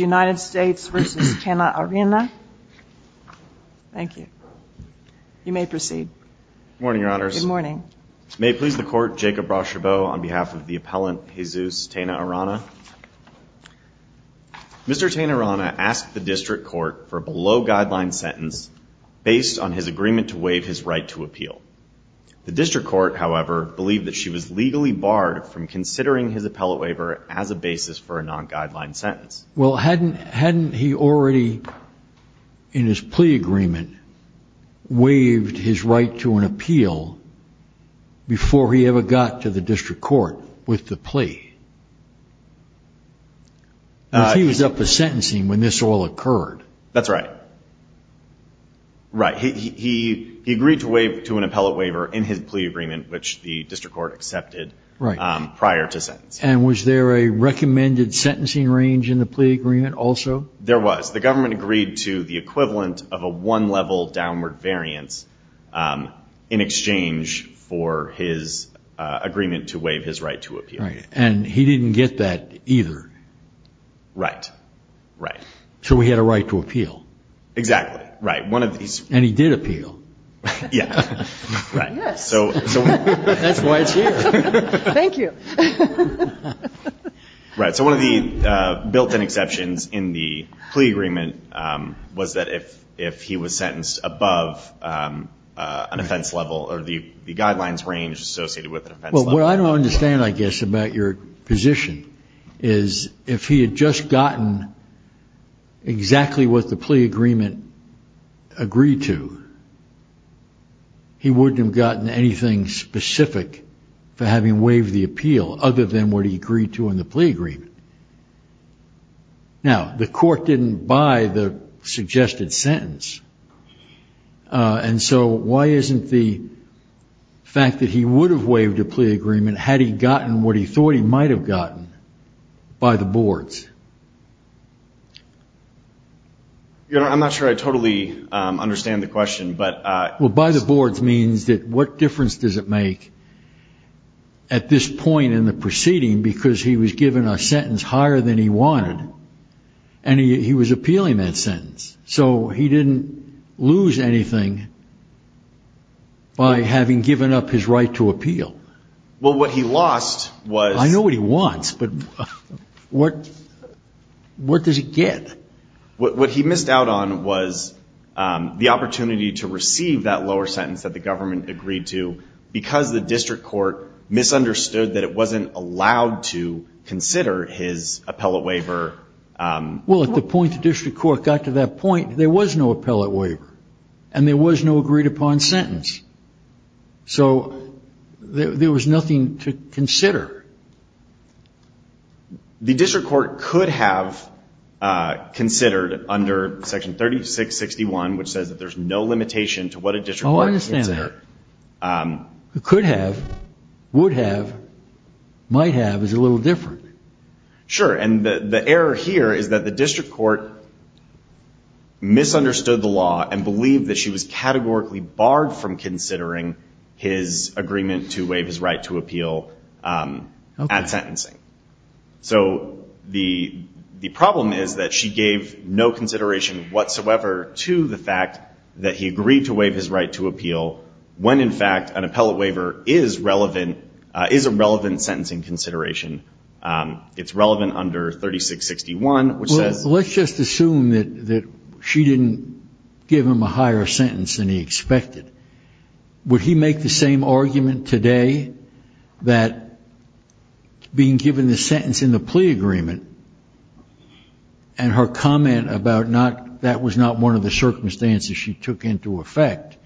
United States v. Tena-Arana. Thank you. You may proceed. Good morning, Your Honors. May it please the Court, Jacob Rachebeau on behalf of the Appellant Jesus Tena-Arana. Mr. Tena-Arana asked the District Court for a below-guideline sentence based on his agreement to waive his right to appeal. The District Court, however, believed that she was legally barred from considering his appellate waiver as a basis for a non-guideline sentence. Well, hadn't he already, in his plea agreement, waived his right to an appeal before he ever got to the District Court with the plea? He was up for sentencing when this all occurred. That's right. Right. He agreed to an appellate waiver in his plea agreement which the District Court accepted prior to sentence. And was there a recommended sentencing range in the plea agreement also? There was. The government agreed to the equivalent of a one-level downward variance in exchange for his agreement to waive his right to appeal. And he didn't get that either. Right. Right. So he had a right to appeal. Exactly. Right. One of these... And he did appeal. Yeah. Right. Yes. That's why it's here. Thank you. Right. So one of the built-in exceptions in the plea agreement was that if he was sentenced above an offense level or the guidelines range associated with an offense level. Well, what I don't understand, I guess, about your position is if he had just gotten exactly what the plea agreement agreed to, he wouldn't have gotten anything specific for having waived the appeal other than what he agreed to in the plea agreement. Now, the court didn't buy the suggested sentence. And so why isn't the fact that he would have waived a plea agreement had he gotten what he thought he might have gotten by the boards? I'm not sure I totally understand the question, but... Well, by the boards means that what difference does it make at this point in the proceeding because he was given a sentence higher than he wanted and he was appealing that sentence. So he didn't lose anything by having given up his right to appeal. Well, what he lost was... I know what he wants, but what does it get? What he missed out on was the opportunity to receive that lower sentence that the government agreed to because the district court misunderstood that it wasn't allowed to consider his appellate waiver. Well, at the point the district court got to that point, there was no appellate waiver and there was no agreed upon sentence. So there was nothing to consider. The district court could have considered under section 3661, which says that there's no limitation to what a district court... Oh, I understand that. Could have, would have, might have is a little different. Sure. And the error here is that the district court misunderstood the law and believed that she was categorically barred from considering his agreement to waive his right to appeal at sentencing. So the problem is that she gave no consideration whatsoever to the fact that he agreed to waive his right to appeal when in fact an appellate waiver is relevant, is a relevant sentence in consideration. It's relevant under 3661, which says... Let's just assume that she didn't give him a higher sentence than he expected. Would he make the same argument today that being given the sentence in the plea agreement and her comment about not, that was not one of the circumstances she took into effect,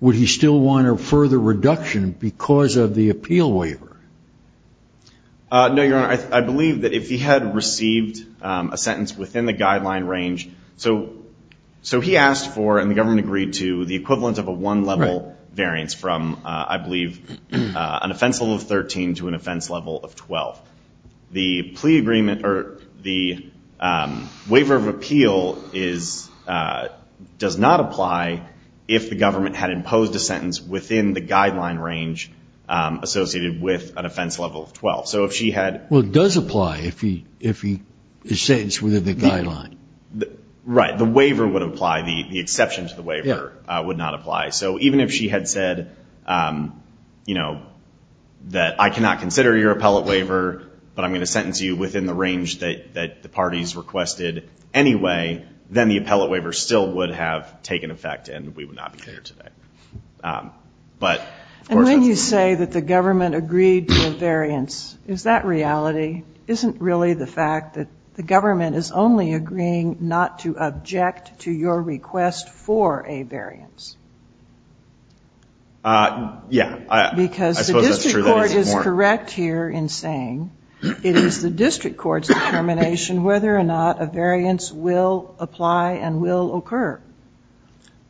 would he still want a further reduction because of the appeal waiver? No, Your Honor. I believe that if he had received a sentence within the guideline range, so he asked for and the government agreed to the equivalent of a one level variance from, I believe, an offense level of 13 to an offense level of 12. The plea agreement or the waiver of appeal does not apply if the government had imposed a sentence within the guideline range associated with an offense level of 12. So if she had... Well, it does apply if he is sentenced within the guideline. Right. The waiver would apply. The exception to the waiver would not apply. So even if she had said that I cannot consider your appellate waiver, but I'm going to sentence you within the range that the parties requested anyway, then the appellate waiver still would have taken effect and we would not be here today. But, of course, that's a... And when you say that the government agreed to a variance, is that reality? Isn't really the fact that the government is only agreeing not to object to your request for a variance? Yeah. Because the district court is correct here in saying it is the district court's determination whether or not a variance will apply and will occur.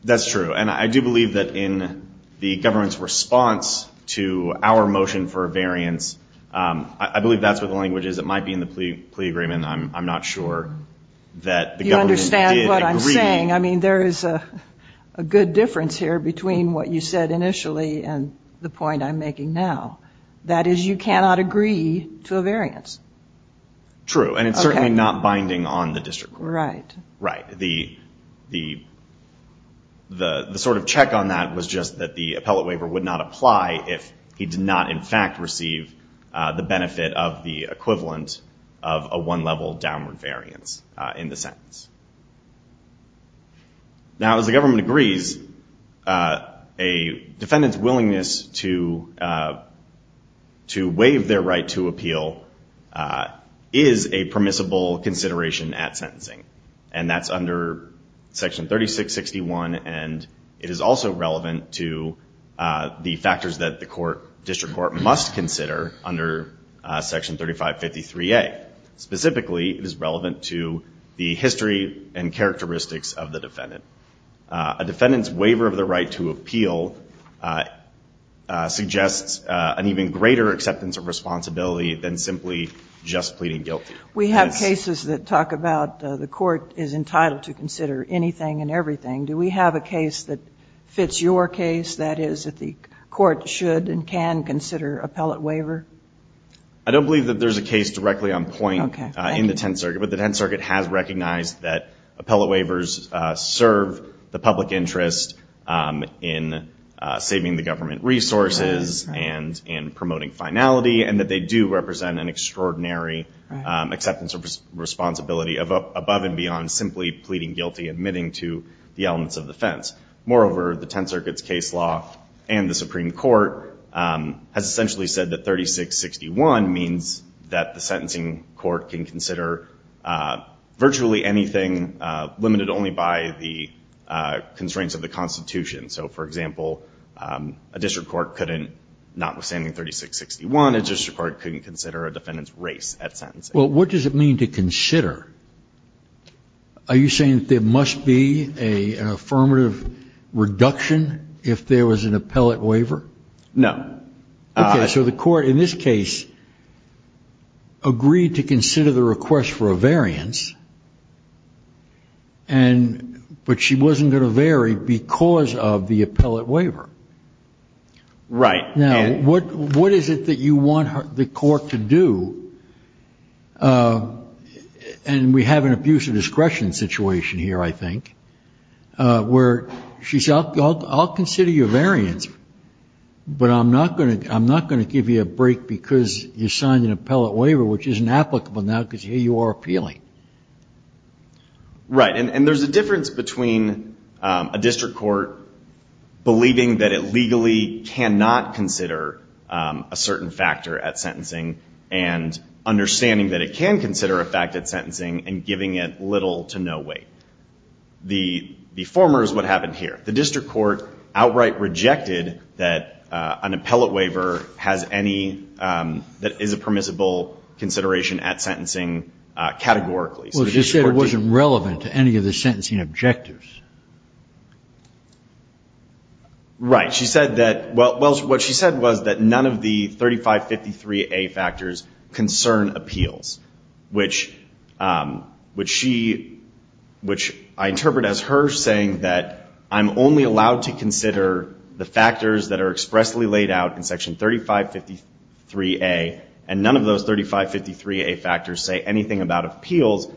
That's true. And I do believe that in the government's response to our motion for a variance, I believe that's what the language is. It might be in the plea agreement. I'm not sure that the government did agree... You understand what I'm saying. I mean, there is a good difference here between what you said initially and the point I'm making now. That is, you cannot agree to a variance. True. And it's certainly not binding on the district court. Right. Right. The sort of check on that was just that the appellate waiver would not apply if he did not, in fact, receive the benefit of the equivalent of a one-level downward variance in the sentence. Now, as the government agrees, a defendant's willingness to waive their right to appeal is a permissible consideration at sentencing. And that's under Section 3661 and it is also relevant to the factors that the court, district court, must consider under Section 3553A. Specifically, it is relevant to the history and characteristics of the defendant. A defendant's waiver of the right to appeal suggests an even greater acceptance of responsibility than simply just pleading guilty. We have cases that talk about the court is entitled to consider anything and everything. Do we have a case that fits your case, that is, that the court should and can consider appellate waiver? I don't believe that there's a case directly on point in the Tenth Circuit, but the Tenth Circuit has recognized that appellate waivers serve the public interest in saving the government resources and in promoting finality, and that they do represent an extraordinary acceptance of responsibility above and beyond simply pleading guilty, admitting to the elements of offense. Moreover, the Tenth Circuit's case law and the Supreme Court has essentially said that 3661 means that the sentencing court can consider virtually anything limited only by the constraints of the Constitution. So, for example, a district court couldn't notwithstanding 3661, a district court couldn't consider a defendant's race at sentencing. What does it mean to consider? Are you saying that there must be an affirmative reduction if there was an appellate waiver? No. Okay, so the court in this case agreed to consider the request for a variance, but she wasn't going to vary because of the appellate waiver. Right. Now, what is it that you want the court to do? And we have an abuse of discretion situation here, I think, where she said, I'll consider your variance, but I'm not going to give you a break because you signed an appellate waiver, which isn't applicable now because here you are appealing. Right, and there's a difference between a district court believing that it legally cannot consider a certain factor at sentencing and understanding that it can consider a fact at sentencing and giving it little to no weight. The former is what happened here. The district court outright rejected that an appellate waiver has any that is a permissible consideration at sentencing categorically. Well, she said it wasn't relevant to any of the sentencing objectives. Right. She said that, well, what she said was that none of the 3553A factors concern appeals, which I interpret as her saying that I'm only allowed to consider the factors that are expressly laid out in section 3553A, and none of those 3553A factors say anything about what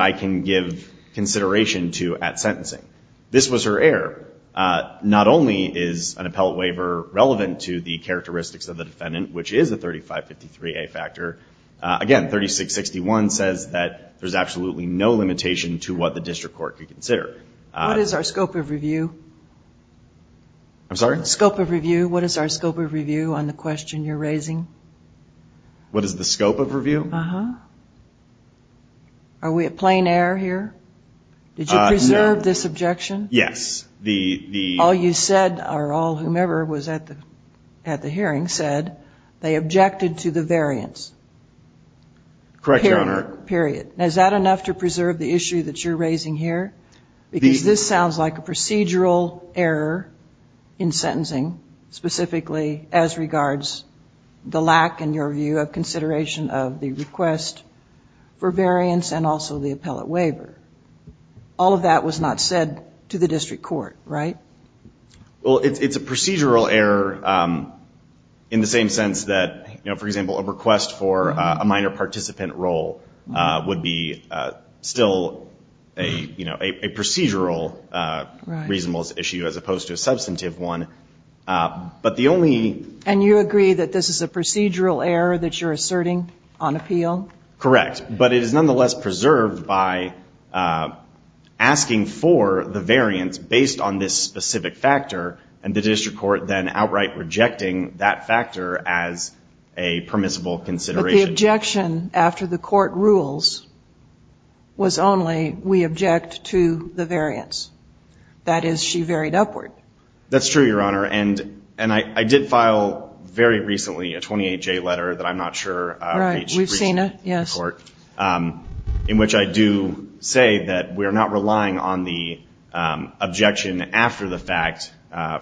I can give consideration to at sentencing. This was her error. Not only is an appellate waiver relevant to the characteristics of the defendant, which is a 3553A factor, again, 3661 says that there's absolutely no limitation to what the district court could consider. What is our scope of review? I'm sorry? Scope of review. What is our scope of review on the question you're raising? What is the scope of review? Are we at plain error here? Did you preserve this objection? Yes. All you said, or all whomever was at the hearing said, they objected to the variance. Correct, Your Honor. Period. Is that enough to preserve the issue that you're raising here? Because this sounds like a procedural error in sentencing, specifically as regards the lack, in your view, of consideration of the request for variance and also the appellate waiver. All of that was not said to the district court, right? Well, it's a procedural error in the same sense that, for example, a request for a minor participant role would be still a procedural reasonable issue as opposed to a substantive one. But the only... And you agree that this is a procedural error that you're asserting on appeal? Correct. But it is nonetheless preserved by asking for the variance based on this specific factor and the district court then outright rejecting that factor as a permissible consideration. But the objection after the court rules was only, we object to the variance. That is, she varied upward. That's true, Your Honor. And I did file, very recently, a 28-J letter that I'm not sure reached the court in which I do say that we are not relying on the objection after the fact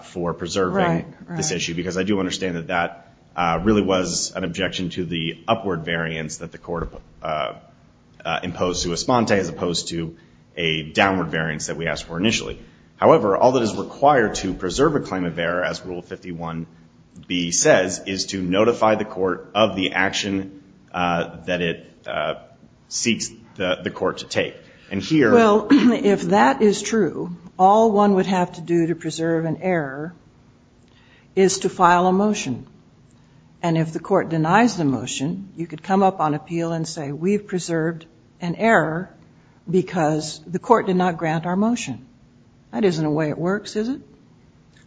for preserving this issue because I do understand that that really was an objection to the upward variance that the court imposed to Esponte as opposed to a downward variance that we asked for initially. However, all that is required to preserve a claim of error as Rule 51b says is to notify the court of the action that it seeks the court to take. And here... Well, if that is true, all one would have to do to preserve an error is to file a motion. And if the court denies the motion, you could come up on appeal and say, we've preserved an error because the court did not grant our motion. That isn't a way it works, is it?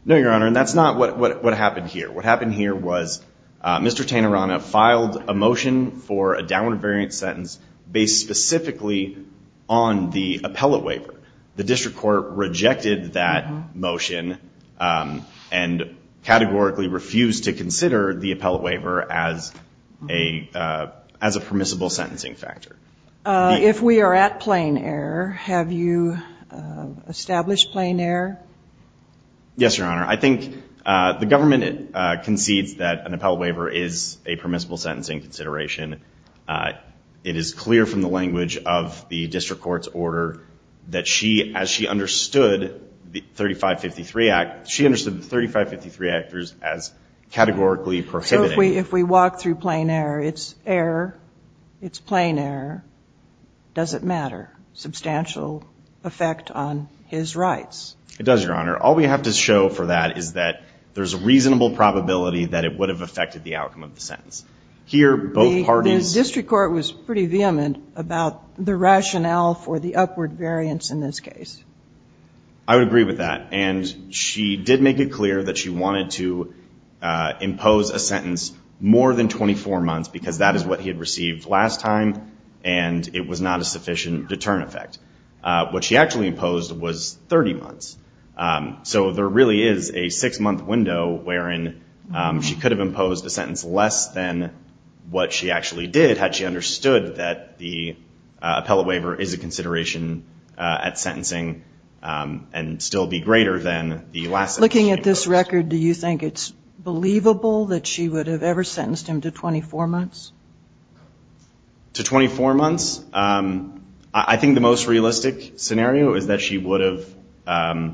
No, Your Honor. And that's not what happened here. What happened here was Mr. Tanerana filed a motion for a downward variance sentence based specifically on the appellate waiver. The district court rejected that motion and categorically refused to consider the appellate waiver as a permissible sentencing factor. If we are at plain error, have you established plain error? Yes, Your Honor. I think the government concedes that an appellate waiver is a permissible sentencing consideration. It is clear from the language of the district court's order that she, as she understood the 3553 Act, she understood the 3553 Act as categorically prohibiting... If we walk through plain error, it's error, it's plain error, doesn't matter. Substantial effect on his rights. It does, Your Honor. All we have to show for that is that there's a reasonable probability that it would have affected the outcome of the sentence. Here, both parties... The district court was pretty vehement about the rationale for the upward variance in this case. I would agree with that. And she did make it clear that she wanted to impose a sentence more than 24 months because that is what he had received last time and it was not a sufficient deterrent effect. What she actually imposed was 30 months. So there really is a six-month window wherein she could have imposed a sentence less than what she actually did had she understood that the appellate waiver is a consideration at sentencing and still be greater than the last sentence she imposed. Looking at this record, do you think it's believable that she would have ever sentenced him to 24 months? To 24 months? I think the most realistic scenario is that she would have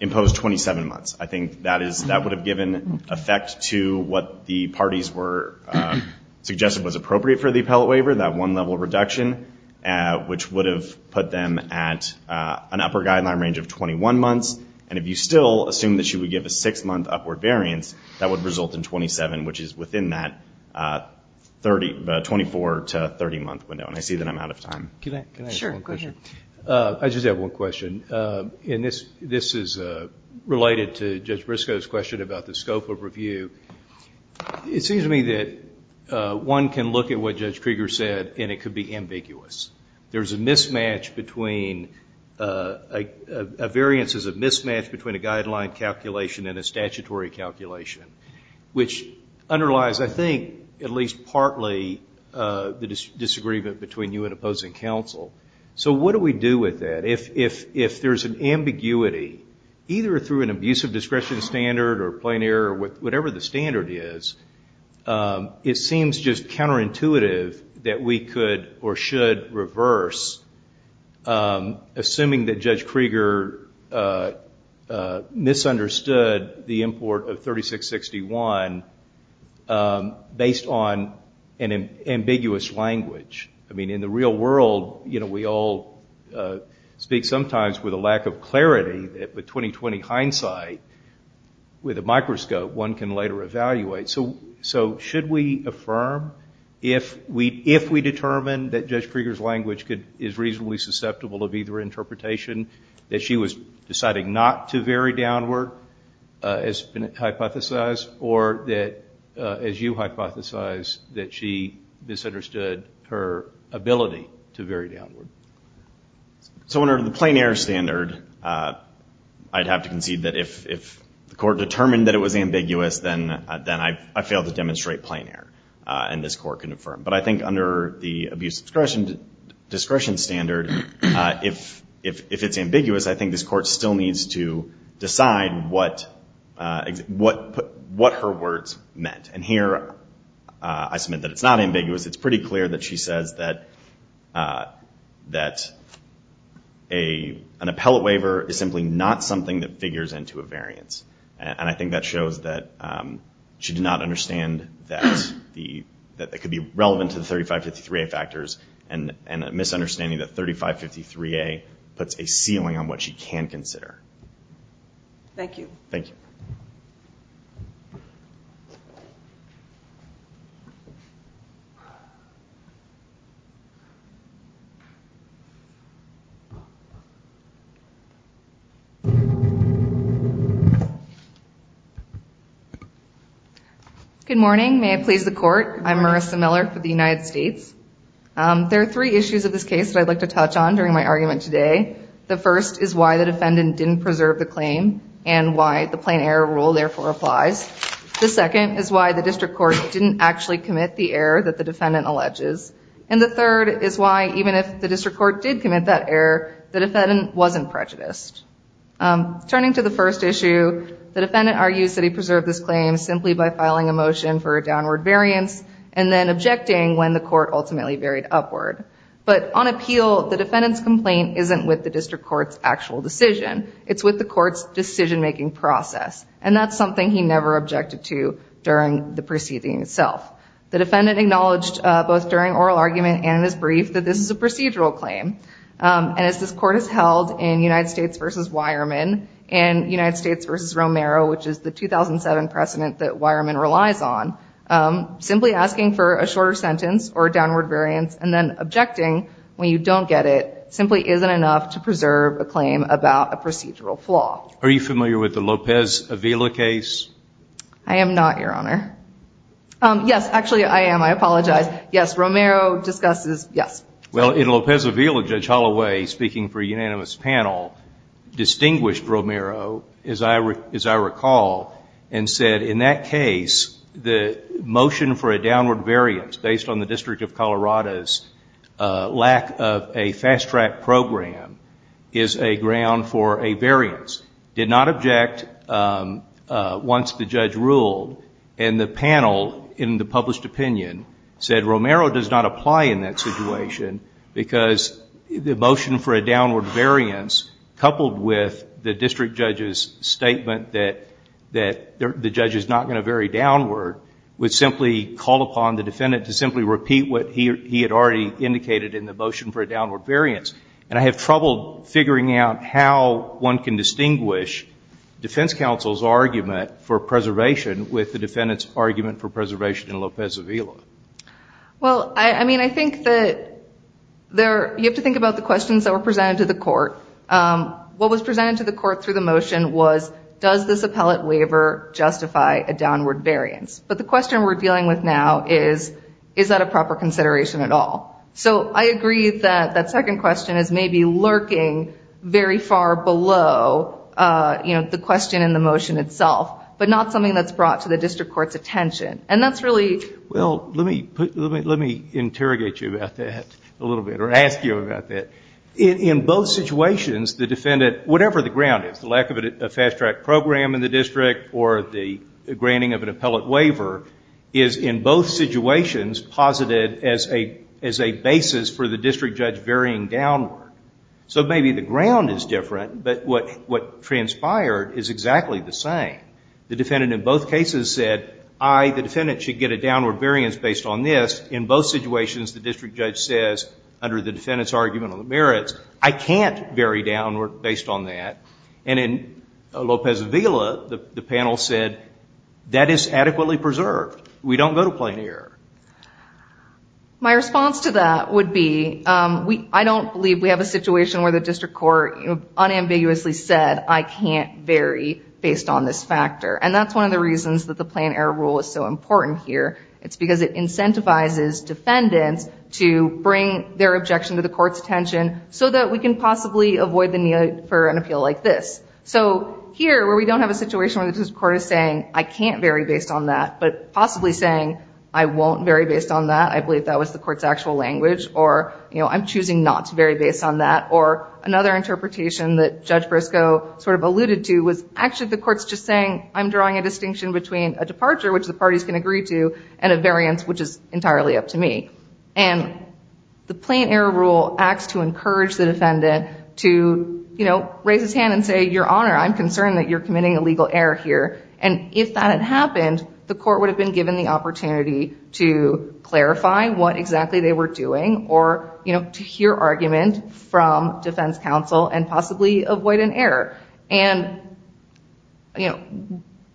imposed 27 months. I think that would have given effect to what the parties were... suggested was appropriate for the appellate waiver, that one-level reduction, which would have put them at an upper guideline range of 21 months. And if you still assume that she would give a six-month upward variance, that would result in 27, which is within that 24 to 30-month window. And I see that I'm out of time. Can I ask one question? Sure, go ahead. I just have one question. And this is related to Judge Briscoe's question about the scope of review. It seems to me that one can look at what Judge Krieger said, and it could be ambiguous. There's a mismatch between... a variance is a mismatch between a guideline calculation and a statutory calculation, which underlies, I think, at least partly, the disagreement between you and opposing counsel. So what do we do with that? If there's an ambiguity, either through an abusive discretion standard or plain error, whatever the standard is, it seems just counterintuitive that we could or should reverse, assuming that Judge Krieger misunderstood the import of 3661 based on an ambiguous language. I mean, in the real 2020 hindsight, with a microscope, one can later evaluate. So should we affirm, if we determine that Judge Krieger's language is reasonably susceptible of either interpretation, that she was deciding not to vary downward, as hypothesized, or that, as you hypothesized, that she misunderstood her ability to vary downward? So under the plain error standard, I'd have to concede that if the court determined that it was ambiguous, then I failed to demonstrate plain error, and this court can affirm. But I think under the abusive discretion standard, if it's ambiguous, I think this court still needs to decide what her words meant. And here, I submit that it's not ambiguous. It's just that an appellate waiver is simply not something that figures into a variance. And I think that shows that she did not understand that it could be relevant to the 3553A factors, and a misunderstanding that 3553A puts a ceiling on what she can consider. Thank you. Thank you. Good morning. May I please the court? I'm Marissa Miller for the United States. There are three issues of this case that I'd like to touch on during my argument today. The first is why the defendant didn't preserve the claim, and why the plain error rule therefore applies. The second is why the district court didn't actually commit the error that the defendant alleges. And the third is why, even if the district court did commit that error, the defendant wasn't prejudiced. Turning to the first issue, the defendant argues that he preserved this claim simply by filing a motion for a downward variance, and then objecting when the court ultimately varied upward. But on appeal, the defendant's complaint isn't with the district court's actual decision. It's with the court's decision-making process. And that's something he never objected to during the proceeding itself. The defendant acknowledged both during oral argument and in his brief that this is a procedural claim. And as this court has held in United States v. Weyermann and United States v. Romero, which is the 2007 precedent that Weyermann relies on, simply asking for a shorter sentence or a downward variance and then objecting when you don't get it simply isn't enough to preserve a claim about a procedural flaw. Are you familiar with the Lopez-Avila case? I am not, Your Honor. Yes, actually, I am. I apologize. Yes, Romero discusses, yes. Well, in Lopez-Avila, Judge Holloway, speaking for a unanimous panel, distinguished Romero, as I recall, and said, in that case, the motion for a downward variance based on the District of Colorado's lack of a fast-track program is a ground for a variance, did not object once the judge ruled. And the panel, in the published opinion, said Romero does not apply in that situation because the motion for a downward variance coupled with the district judge's statement that the judge is not going to vary downward would simply call upon the district judge to repeat what he had already indicated in the motion for a downward variance. And I have trouble figuring out how one can distinguish defense counsel's argument for preservation with the defendant's argument for preservation in Lopez-Avila. Well, I mean, I think that there, you have to think about the questions that were presented to the court. What was presented to the court through the motion was, does this appellate waiver justify a downward variance? But the question we're dealing with now is, is that a proper consideration at all? So I agree that that second question is maybe lurking very far below, you know, the question in the motion itself, but not something that's brought to the district court's attention. And that's really... Well, let me interrogate you about that a little bit, or ask you about that. In both situations, the defendant, whatever the ground is, the lack of a fast-track program in the basis for the district judge varying downward. So maybe the ground is different, but what transpired is exactly the same. The defendant in both cases said, I, the defendant, should get a downward variance based on this. In both situations, the district judge says, under the defendant's argument on the merits, I can't vary downward based on that. And in My response to that would be, I don't believe we have a situation where the district court unambiguously said, I can't vary based on this factor. And that's one of the reasons that the plan error rule is so important here. It's because it incentivizes defendants to bring their objection to the court's attention so that we can possibly avoid the need for an appeal like this. So here, where we don't have a situation where the district court is saying, I can't vary based on that, but possibly saying, I won't vary based on that, I believe that was the court's actual language, or I'm choosing not to vary based on that. Or another interpretation that Judge Briscoe sort of alluded to was, actually, the court's just saying, I'm drawing a distinction between a departure, which the parties can agree to, and a variance, which is entirely up to me. And the plan error rule acts to encourage the defendant to raise his hand and say, Your Honor, I'm concerned that you're committing a legal error here. And if that had happened, the court would have been given the opportunity to clarify what exactly they were doing or to hear argument from defense counsel and possibly avoid an error. And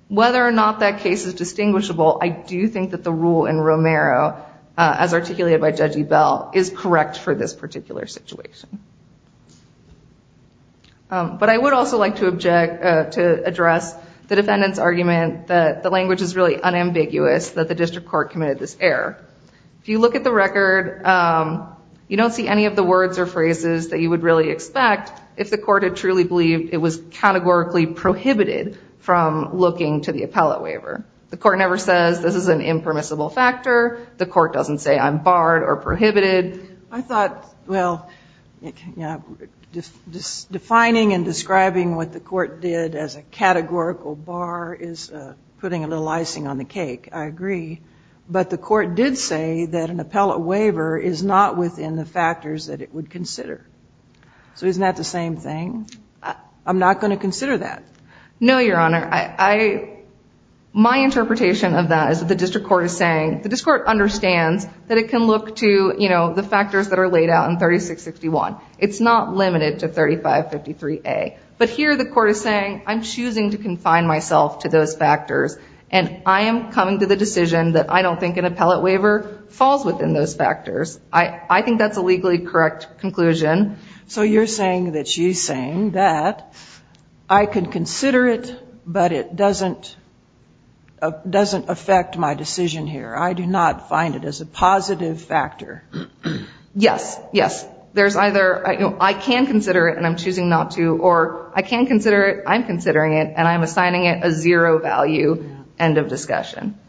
whether or not that case is distinguishable, I do think that the rule in Romero, as articulated by Judge Ebell, is correct for this particular situation. But I would also like to address the defendant's argument that the language is really unambiguous, that the district court committed this error. If you look at the record, you don't see any of the words or phrases that you would really expect if the court had truly believed it was categorically prohibited from looking to the appellate waiver. The court never says, this is an impermissible factor. The court doesn't say, I'm barred or prohibited. I thought, well, defining and describing what the court did as a categorical bar is putting a little icing on the cake. I agree. But the court did say that an appellate waiver is not within the factors that it would consider. So isn't that the same thing? I'm not going to consider that. No, Your Honor. My interpretation of that is that the district court is saying, the district court understands that it can look to the factors that are laid out in 3661. It's not limited to 3553A. But here the court is saying, I'm choosing to confine myself to those factors. And I am coming to the decision that I don't think an appellate waiver falls within those factors. I think that's a legally correct conclusion. So you're saying that she's saying that I could consider it, but it doesn't affect my decision here. I do not find it as a positive factor. Yes. Yes. There's either, I can consider it and I'm choosing not to, or I can consider it, I'm considering it, and I'm assigning it a zero value. End of discussion.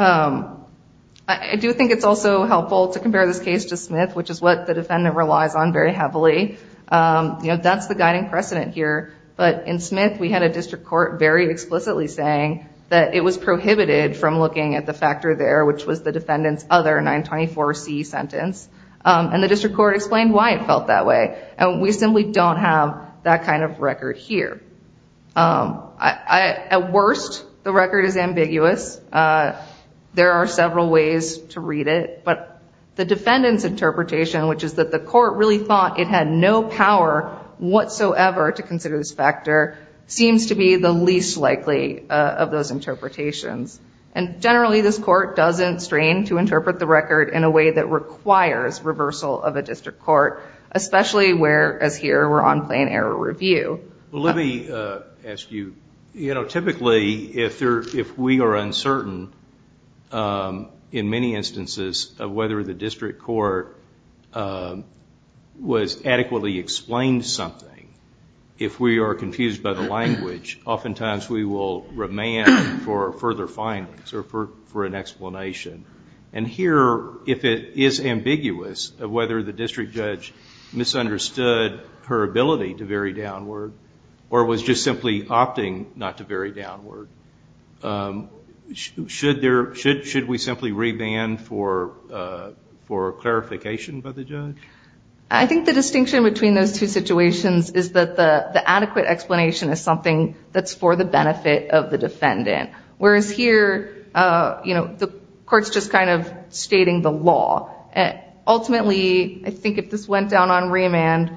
I do think it's also helpful to compare this case to Smith, which is what the defendant relies on very heavily. That's the guiding precedent here. But in Smith, we had a district court very explicitly saying that it was prohibited from looking at the factor there, which was the defendant's other 924C sentence. And the district court explained why it felt that way. And we simply don't have that kind of record here. At worst, the record is ambiguous. There are several ways to read it. But the defendant's interpretation, which is that the court really thought it had no power whatsoever to consider this factor, seems to be the least likely of those interpretations. And generally this court doesn't strain to interpret the record in a way that requires reversal of a district court, especially where, as here, we're on plan error review. Let me ask you, you know, typically if we are uncertain, in many instances, of whether the district court adequately explained something, if we are confused by the language, oftentimes we will remand for further findings or for an explanation. And here, if it is ambiguous of whether the district judge misunderstood her ability to vary downward or was just simply opting not to vary downward, should we simply remand for clarification by the judge? I think the distinction between those two situations is that the adequate explanation is something that's for the benefit of the defendant. Whereas here, you know, the court's just kind of stating the law. Ultimately, I think if this went down on remand,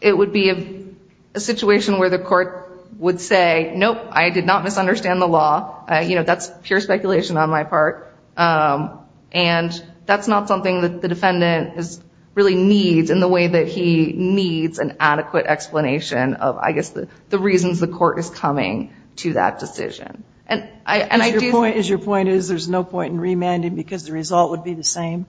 it would be a situation where the court would say, nope, I did not misunderstand the law. You know, that's pure speculation on my part. And that's not something that the defendant really needs in the way that he needs an adequate explanation of, I guess, the reasons the court is coming to that decision. And your point is there's no point in remanding because the result would be the same?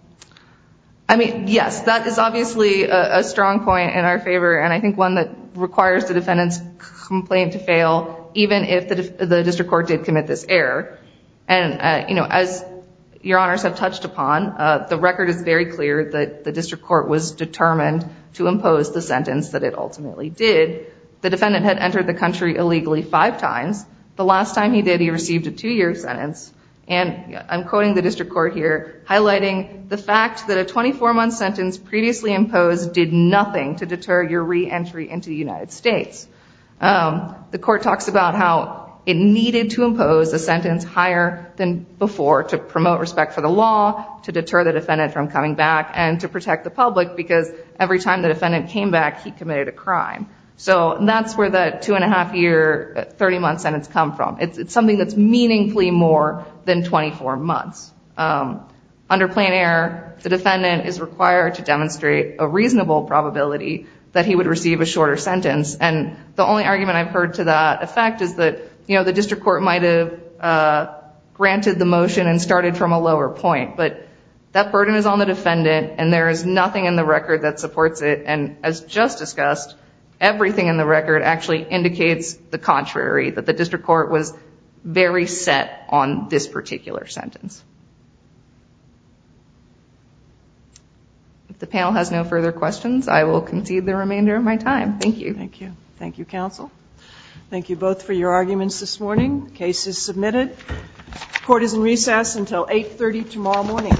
I mean, yes. That is obviously a strong point in our favor and I think one that requires the defendant's complaint to fail, even if the district court did commit this error. And you know, as Your Honors have touched upon, the record is very clear that the district court was determined to impose the sentence that it ultimately did. The defendant had received a two-year sentence. And I'm quoting the district court here, highlighting the fact that a 24-month sentence previously imposed did nothing to deter your reentry into the United States. The court talks about how it needed to impose a sentence higher than before to promote respect for the law, to deter the defendant from coming back, and to protect the public because every time the defendant came back, he committed a crime. So that's where that two-and-a-half-year, 30-month sentence come from. It's something that's meaningfully more than 24 months. Under plain error, the defendant is required to demonstrate a reasonable probability that he would receive a shorter sentence. And the only argument I've heard to that effect is that, you know, the district court might have granted the motion and started from a lower point. But that burden is on the defendant and there is nothing in the record that supports it. And as just discussed, everything in the record actually indicates the contrary, that the district court was very set on this particular sentence. If the panel has no further questions, I will concede the remainder of my time. Thank you. Thank you. Thank you, counsel. Thank you both for your arguments this morning. Case is submitted. Court is in recess until 8.30 tomorrow morning.